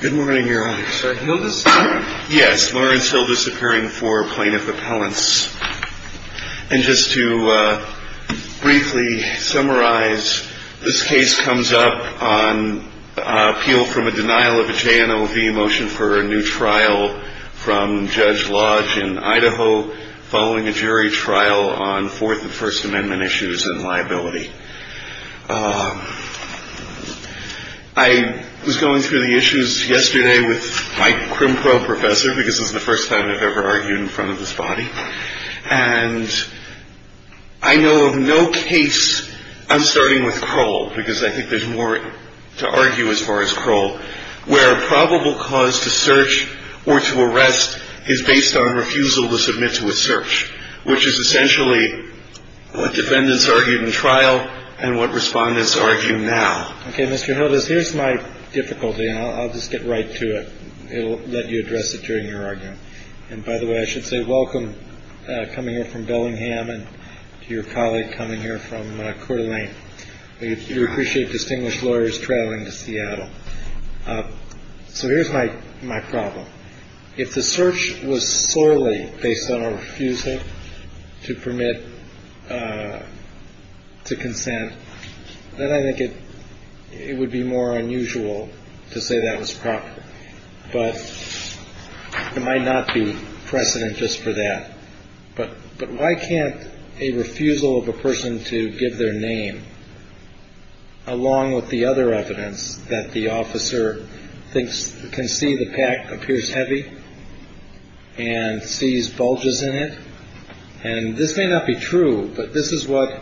Good morning, Your Honor. Sorry, Hildes? Yes, Lawrence Hildes, appearing for plaintiff appellants. And just to briefly summarize, this case comes up on appeal from a denial of a JNOV motion for a new trial from Judge Lodge in Idaho following a jury trial on Fourth and First Amendment issues and liability. I was going through the issues yesterday with my crim pro professor, because this is the first time I've ever argued in front of this body. And I know of no case, I'm starting with Kroll, because I think there's more to argue as far as Kroll, where a probable cause to search or to arrest is based on refusal to submit to a search, which is essentially what defendants argued in trial and what respondents argue now. OK, Mr. Hildes, here's my difficulty, and I'll just get right to it. It'll let you address it during your argument. And by the way, I should say welcome coming here from Bellingham and to your colleague coming here from Coeur d'Alene. So here's my my problem. If the search was sorely based on a refusal to permit to consent, then I think it would be more unusual to say that was proper. But it might not be precedent just for that. But but why can't a refusal of a person to give their name along with the other evidence that the officer thinks can see the pack appears heavy and sees bulges in it? And this may not be true, but this is what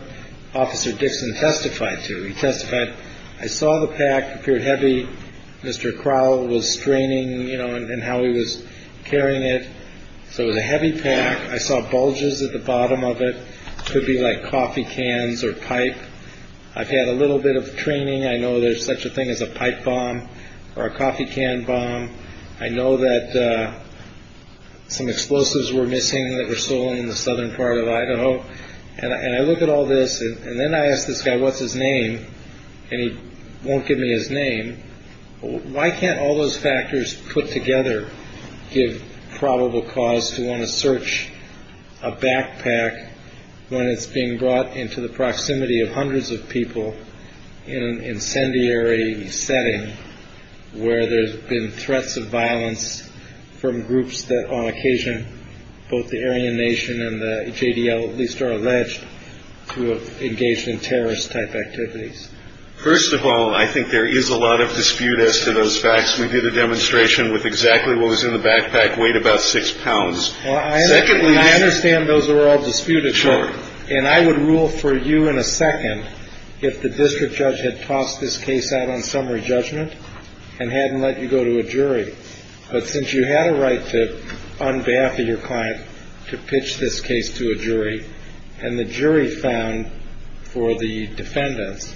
Officer Dixon testified to. He testified. I saw the pack appeared heavy. Mr. Kroll was straining, you know, and how he was carrying it. So it was a heavy pack. I saw bulges at the bottom of it could be like coffee cans or pipe. I've had a little bit of training. I know there's such a thing as a pipe bomb or a coffee can bomb. I know that some explosives were missing that were stolen in the southern part of Idaho. And I look at all this and then I ask this guy, what's his name? And he won't give me his name. Why can't all those factors put together give probable cause to want to search a backpack when it's being brought into the proximity of hundreds of people in an incendiary setting where there's been threats of violence from groups that on occasion, both the Aryan Nation and the J.D.L. At least are alleged to have engaged in terrorist type activities. First of all, I think there is a lot of dispute as to those facts. We did a demonstration with exactly what was in the backpack. Weighed about six pounds. Well, secondly, I understand those are all disputed. Sure. And I would rule for you in a second if the district judge had tossed this case out on summary judgment and hadn't let you go to a jury. But since you had a right to on behalf of your client to pitch this case to a jury and the jury found for the defendants,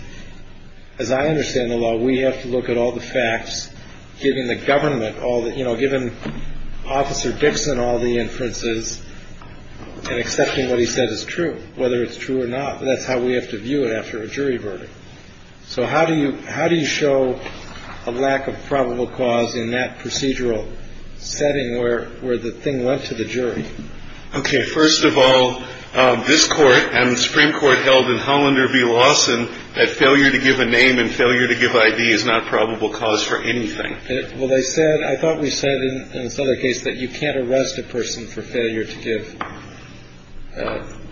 as I understand the law, we have to look at all the facts. Giving the government all that, you know, given Officer Dixon, all the inferences and accepting what he said is true, whether it's true or not. That's how we have to view it after a jury verdict. So how do you how do you show a lack of probable cause in that procedural setting where where the thing went to the jury? OK. First of all, this court and the Supreme Court held in Hollander v. Lawson that failure to give a name and failure to give I.D. is not probable cause for anything. Well, they said I thought we said in this other case that you can't arrest a person for failure to give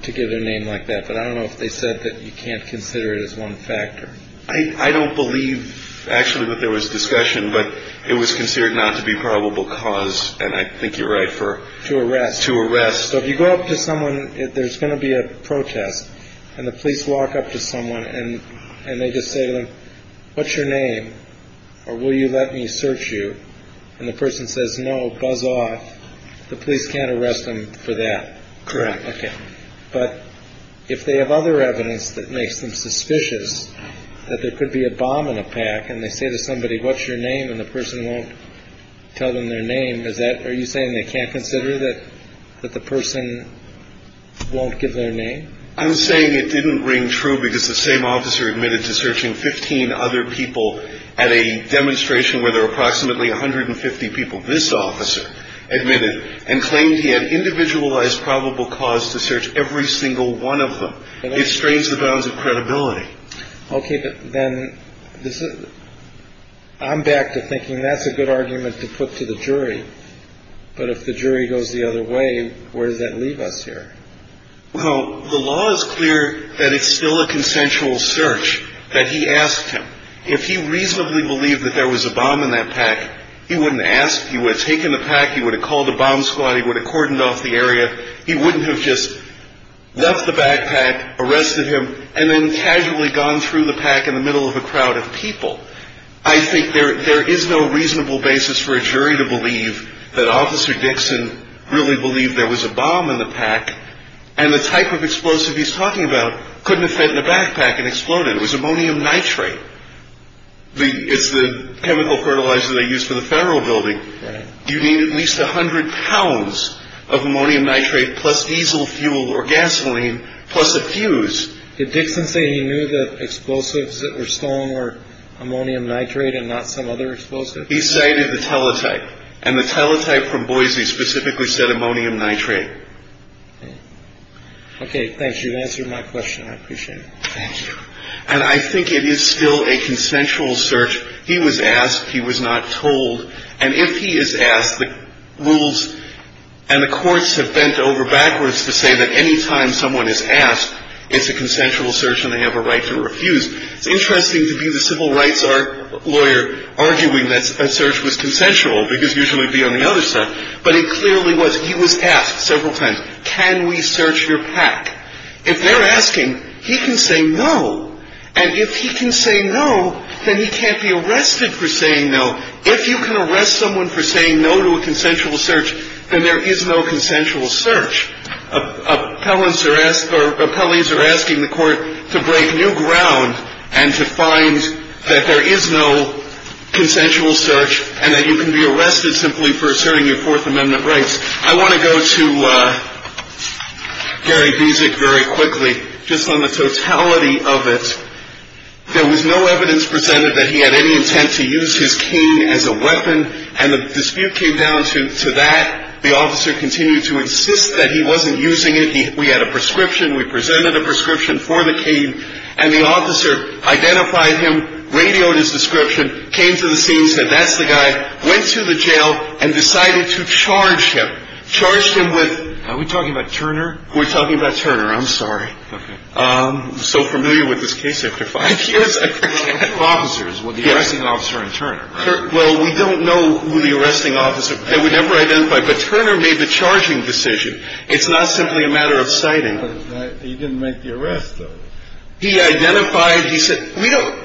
to give their name like that. But I don't know if they said that you can't consider it as one factor. I don't believe actually that there was discussion, but it was considered not to be probable cause. And I think you're right for to arrest, to arrest. So if you go up to someone, there's going to be a protest and the police walk up to someone and and they just say, what's your name? Or will you let me search you? And the person says, no, buzz off. The police can't arrest them for that. Correct. OK. But if they have other evidence that makes them suspicious that there could be a bomb in a pack and they say to somebody, what's your name? And the person won't tell them their name. Is that are you saying they can't consider that that the person won't give their name? I'm saying it didn't ring true because the same officer admitted to searching 15 other people at a demonstration where there were approximately 150 people. This officer admitted and claimed he had individualized probable cause to search every single one of them. It strains the bounds of credibility. OK, but then this is I'm back to thinking that's a good argument to put to the jury. But if the jury goes the other way, where does that leave us here? Well, the law is clear that it's still a consensual search that he asked him if he reasonably believed that there was a bomb in that pack. He wouldn't ask. He would have taken the pack. He would have called the bomb squad. He would have cordoned off the area. He wouldn't have just left the backpack, arrested him and then casually gone through the pack in the middle of a crowd of people. I think there is no reasonable basis for a jury to believe that Officer Dixon really believed there was a bomb in the pack. And the type of explosive he's talking about couldn't fit in the backpack and exploded. It was ammonium nitrate. It's the chemical fertilizer they use for the federal building. You need at least 100 pounds of ammonium nitrate plus diesel fuel or gasoline plus a fuse. Did Dixon say he knew the explosives that were stolen or ammonium nitrate and not some other explosive? He cited the teletype and the teletype from Boise specifically said ammonium nitrate. OK, thanks. You've answered my question. I appreciate it. Thank you. And I think it is still a consensual search. He was asked. He was not told. And if he is asked the rules and the courts have bent over backwards to say that any time someone is asked, it's a consensual search and they have a right to refuse. It's interesting to be the civil rights lawyer arguing that search was consensual because usually it would be on the other side. But it clearly was. He was asked several times. Can we search your pack? If they're asking, he can say no. And if he can say no, then he can't be arrested for saying no. If you can arrest someone for saying no to a consensual search, then there is no consensual search. Appellants are asked or appellees are asking the court to break new ground and to find that there is no consensual search and that you can be arrested simply for asserting your Fourth Amendment rights. I want to go to Gary Beasick very quickly, just on the totality of it. There was no evidence presented that he had any intent to use his cane as a weapon. And the dispute came down to that. The officer continued to insist that he wasn't using it. We had a prescription. We presented a prescription for the cane. And the officer identified him, radioed his description, came to the scene, said, that's the guy, went to the jail and decided to charge him, charged him with. Are we talking about Turner? We're talking about Turner. I'm sorry. I'm so familiar with this case. After five years of officers with the arresting officer in turn. Well, we don't know who the arresting officer that we never identified. But Turner made the charging decision. It's not simply a matter of citing. He didn't make the arrest. He identified. He said we don't.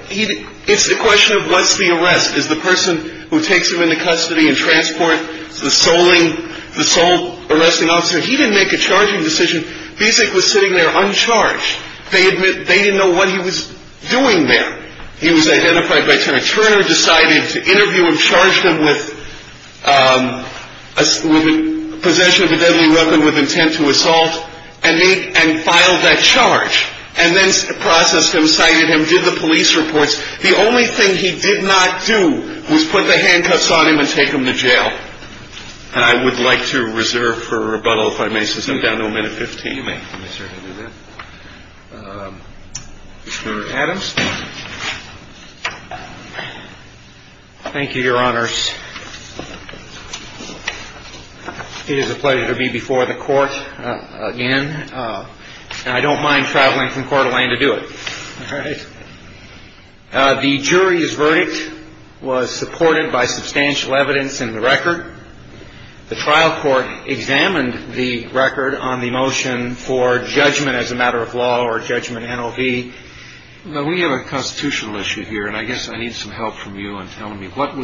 It's the question of what's the arrest is the person who takes him into custody and transport the soling. The sole arresting officer. He didn't make a charging decision. Basic was sitting there uncharged. They admit they didn't know what he was doing there. He was identified by Turner. Turner decided to interview him, charged him with possession of a deadly weapon with intent to assault. And he and filed that charge and then processed him, cited him, did the police reports. The only thing he did not do was put the handcuffs on him and take him to jail. And I would like to reserve for rebuttal if I may sit down a minute. Fifteen minutes. Adams. Thank you, Your Honors. It is a pleasure to be before the court again. And I don't mind traveling from Coeur d'Alene to do it. The jury's verdict was supported by substantial evidence in the record. The trial court examined the record on the motion for judgment as a matter of law or judgment. The jury's verdict was supported by substantial evidence in the record. The trial court examined the record on the motion for judgment as a matter of law or judgment. The jury's verdict was supported by substantial evidence in the record.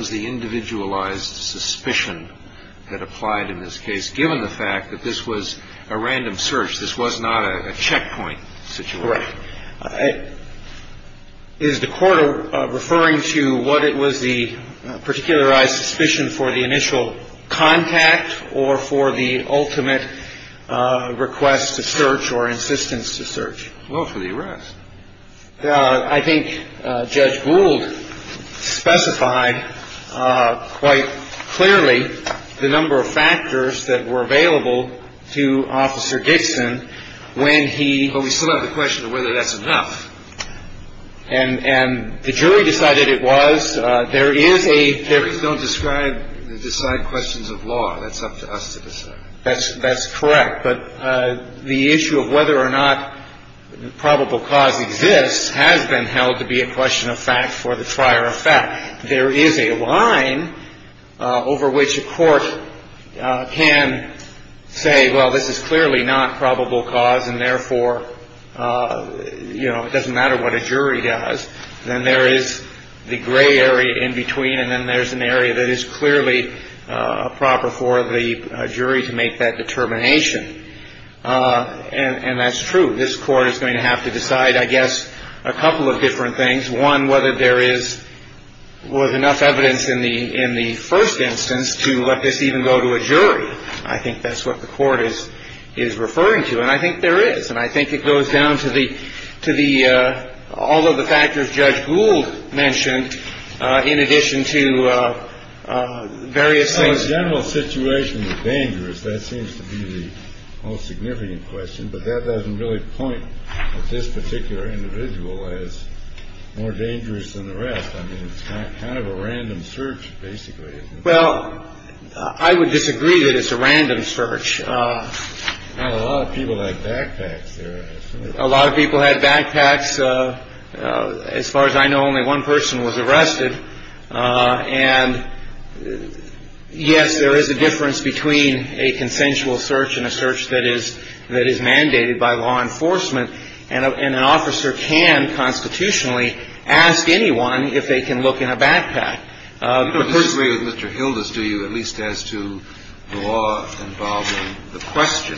Well, for the arrest. I think Judge Gould specified quite clearly the number of factors that were available to Officer Dixon when he. But we still have the question of whether that's enough. And the jury decided it was. There is a. Juries don't describe, decide questions of law. That's up to us to decide. That's that's correct. But the issue of whether or not probable cause exists has been held to be a question of fact for the trier of fact. There is a line over which a court can say, well, this is clearly not probable cause. And therefore, you know, it doesn't matter what a jury does. Then there is the gray area in between. And then there's an area that is clearly proper for the jury to make that determination. And that's true. This court is going to have to decide, I guess, a couple of different things. One, whether there is was enough evidence in the in the first instance to let this even go to a jury. I think that's what the court is is referring to. And I think there is. And I think it goes down to the to the all of the factors Judge Gould mentioned in addition to various things. General situation is dangerous. That seems to be the most significant question. But that doesn't really point this particular individual is more dangerous than the rest. I mean, it's kind of a random search, basically. Well, I would disagree that it's a random search. A lot of people like backpacks. A lot of people had backpacks. As far as I know, only one person was arrested. And yes, there is a difference between a consensual search and a search that is that is mandated by law enforcement. And an officer can constitutionally ask anyone if they can look in a backpack. Mr. Hilda's, do you at least as to the law involving the question?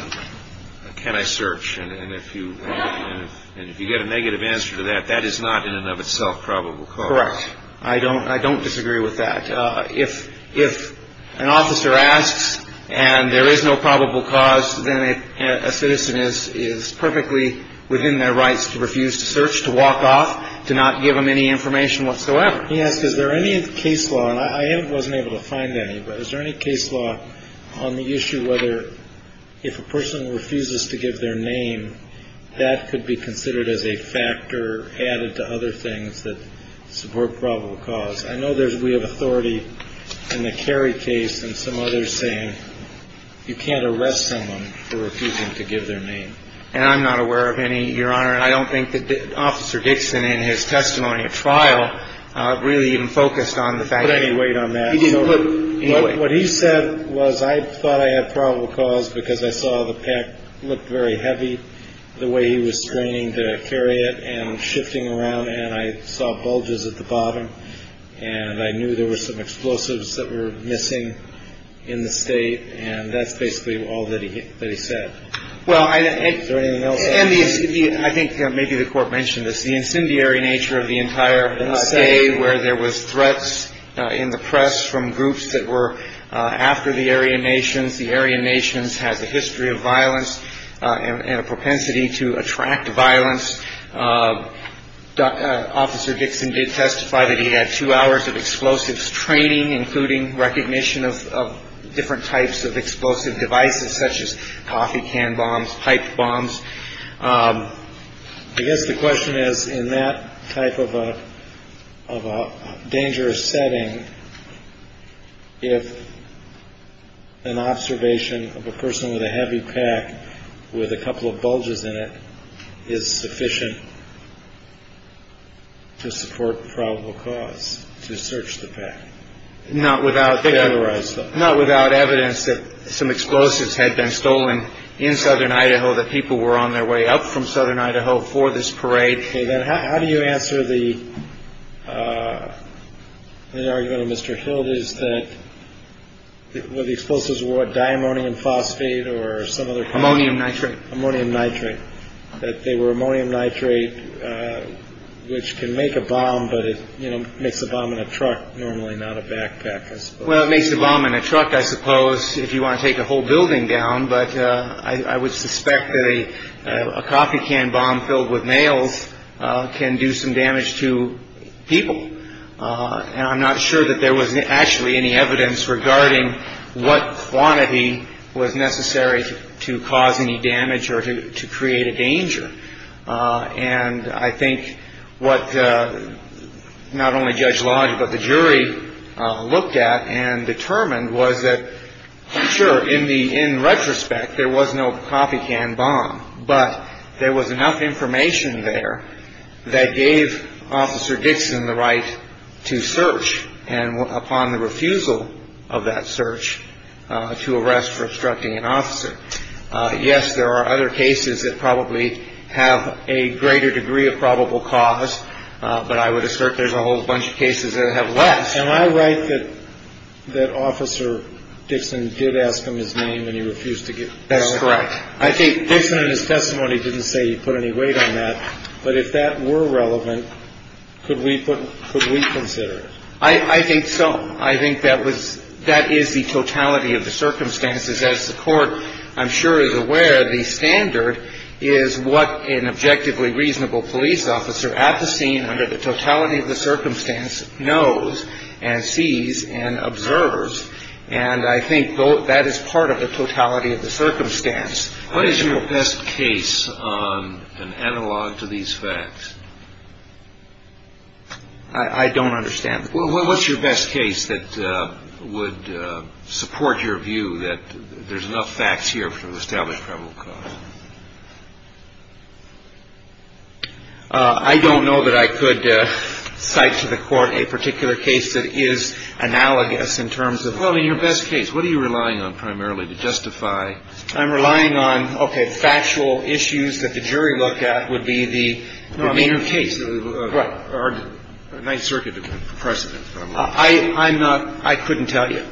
Can I search? And if you and if you get a negative answer to that, that is not in and of itself probable. Correct. I don't I don't disagree with that. If if an officer asks and there is no probable cause, then a citizen is is perfectly within their rights to refuse to search, to walk off, to not give them any information whatsoever. Yes. Is there any case law? I wasn't able to find any. But is there any case law on the issue whether if a person refuses to give their name, that could be considered as a factor added to other things that support probable cause? I know there's we have authority in the Kerry case and some others saying you can't arrest someone for refusing to give their name. And I'm not aware of any, Your Honor. And I don't think that Officer Dixon in his testimony of trial really even focused on the fact that he weighed on that. But what he said was I thought I had probable cause because I saw the pack looked very heavy the way he was straining to carry it and shifting around. And I saw bulges at the bottom and I knew there were some explosives that were missing in the state. And that's basically all that he said. Well, I think. And I think maybe the court mentioned this, the incendiary nature of the entire day where there was threats in the press from groups that were after the Aryan nations. The Aryan nations has a history of violence and a propensity to attract violence. Officer Dixon did testify that he had two hours of explosives training, including recognition of different types of explosive devices such as coffee can bombs, pipe bombs. I guess the question is, in that type of a of a dangerous setting, if an observation of a person with a heavy pack with a couple of bulges in it is sufficient. To support probable cause to search the pack. Not without. Not without evidence that some explosives had been stolen in southern Idaho, that people were on their way up from southern Idaho for this parade. How do you answer the argument of Mr. Hilde is that the explosives were diammonium phosphate or some other ammonium nitrate ammonium nitrate. That they were ammonium nitrate, which can make a bomb, but it makes a bomb in a truck, normally not a backpack. Well, it makes the bomb in a truck, I suppose, if you want to take a whole building down. But I would suspect that a coffee can bomb filled with nails can do some damage to people. And I'm not sure that there was actually any evidence regarding what quantity was necessary to cause any damage or to create a danger. And I think what not only Judge Lodge, but the jury looked at and determined was that, sure, in the in retrospect, there was no coffee can bomb, but there was enough information there that gave Officer Dixon the right to search. And upon the refusal of that search to arrest for obstructing an officer. Yes, there are other cases that probably have a greater degree of probable cause. But I would assert there's a whole bunch of cases that have left. Am I right that that Officer Dixon did ask him his name and he refused to get that's correct. I think Dixon in his testimony didn't say he put any weight on that. But if that were relevant, could we put could we consider it? I think so. I think that was that is the totality of the circumstances as the court, I'm sure, is aware. The standard is what an objectively reasonable police officer at the scene under the totality of the circumstance knows and sees and observes. And I think that is part of the totality of the circumstance. What is your best case on an analog to these facts? I don't understand. Well, what's your best case that would support your view that there's enough facts here to establish probable cause? I don't know that I could cite to the court a particular case that is analogous in terms of your best case. What are you relying on primarily to justify? I'm relying on, OK, factual issues that the jury looked at would be the case. Right. Or the Ninth Circuit precedent. I'm not. I couldn't tell you.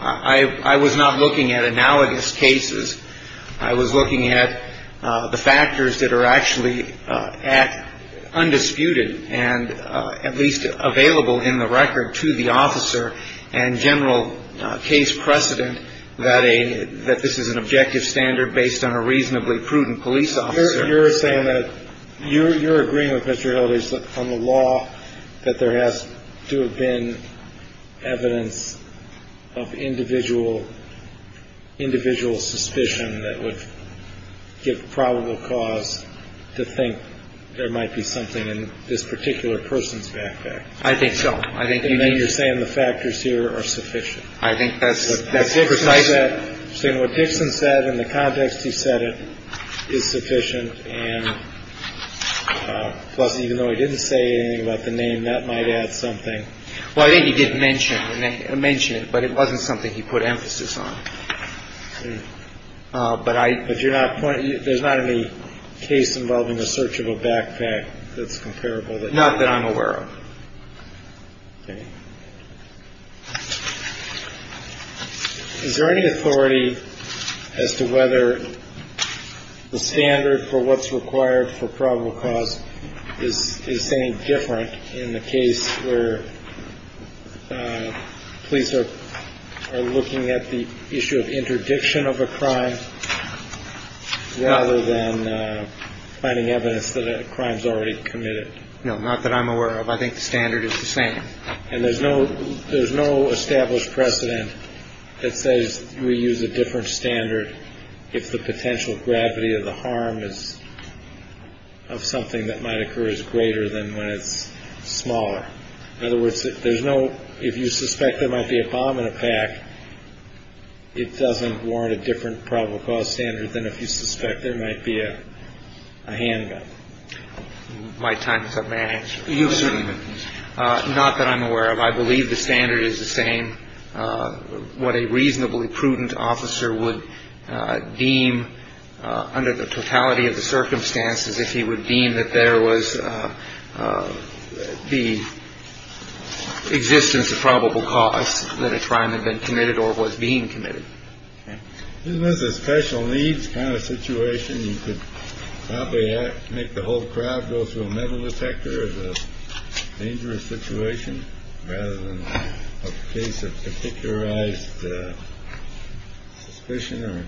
I was not looking at analogous cases. I was looking at the factors that are actually at undisputed and at least available in the record to the officer and general case precedent that a that this is an objective standard based on a reasonably prudent police officer. You're saying that you're agreeing with Mr. Hildreth on the law, that there has to have been evidence of individual individual suspicion that would give probable cause to think there might be something in this particular person's backpack. I think so. I think you're saying the factors here are sufficient. I think that's what I said. So what Dixon said in the context, he said it is sufficient. And plus, even though he didn't say anything about the name that might add something. Well, I think he did mention mention it, but it wasn't something he put emphasis on. But I. But you're not. There's not any case involving the search of a backpack that's comparable. Not that I'm aware of. Is there any authority as to whether the standard for what's required for probable cause is is saying different in the case where police are looking at the issue of interdiction of a crime rather than finding evidence that a crime is already committed? No, not that I'm aware of. I think the standard is the same. And there's no there's no established precedent that says we use a different standard. If the potential gravity of the harm is of something that might occur is greater than when it's smaller. In other words, there's no if you suspect there might be a bomb in a pack. It doesn't warrant a different probable cause standard than if you suspect there might be a handgun. My time is up, man. Not that I'm aware of. I believe the standard is the same. What a reasonably prudent officer would deem under the totality of the circumstances, if he would deem that there was the existence of probable cause that a crime had been committed or was being committed. And this is special needs kind of situation. You could probably make the whole crowd go through a metal detector is a dangerous situation. Rather than a case of particularized suspicion or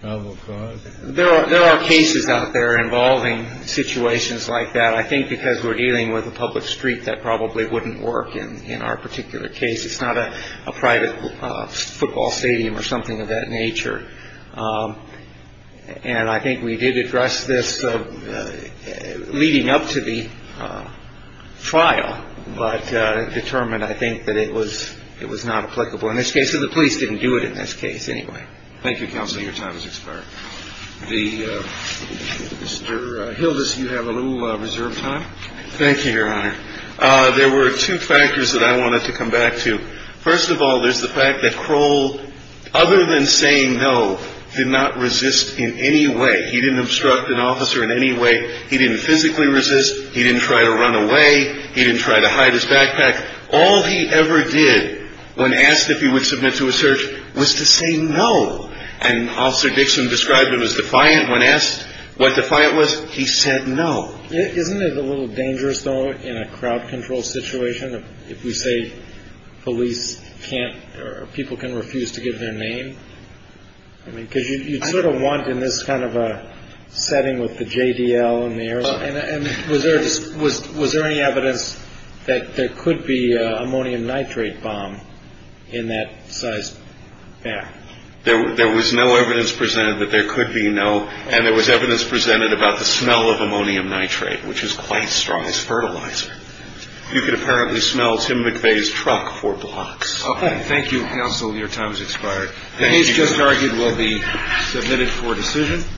probable cause. There are there are cases out there involving situations like that, I think because we're dealing with a public street that probably wouldn't work in our particular case. It's not a private football stadium or something of that nature. And I think we did address this leading up to the trial, but determined, I think, that it was it was not applicable in this case of the police didn't do it in this case anyway. Thank you, counsel. Your time is expired. The Hilda's. You have a little reserve time. Thank you, Your Honor. There were two factors that I wanted to come back to. First of all, there's the fact that Kroll, other than saying no, did not resist in any way. He didn't obstruct an officer in any way. He didn't physically resist. He didn't try to run away. He didn't try to hide his backpack. All he ever did when asked if he would submit to a search was to say no. And Officer Dixon described him as defiant when asked what the fight was. He said no. Isn't it a little dangerous, though, in a crowd control situation? If we say police can't or people can refuse to give their name. I mean, because you sort of want in this kind of a setting with the J.D.L. in the air. And was there was was there any evidence that there could be ammonium nitrate bomb in that size? Yeah, there was no evidence presented that there could be no. And there was evidence presented about the smell of ammonium nitrate, which is quite strong as fertilizer. You could apparently smell Tim McVeigh's truck for blocks. Thank you, counsel. Your time has expired. The case just argued will be submitted for decision.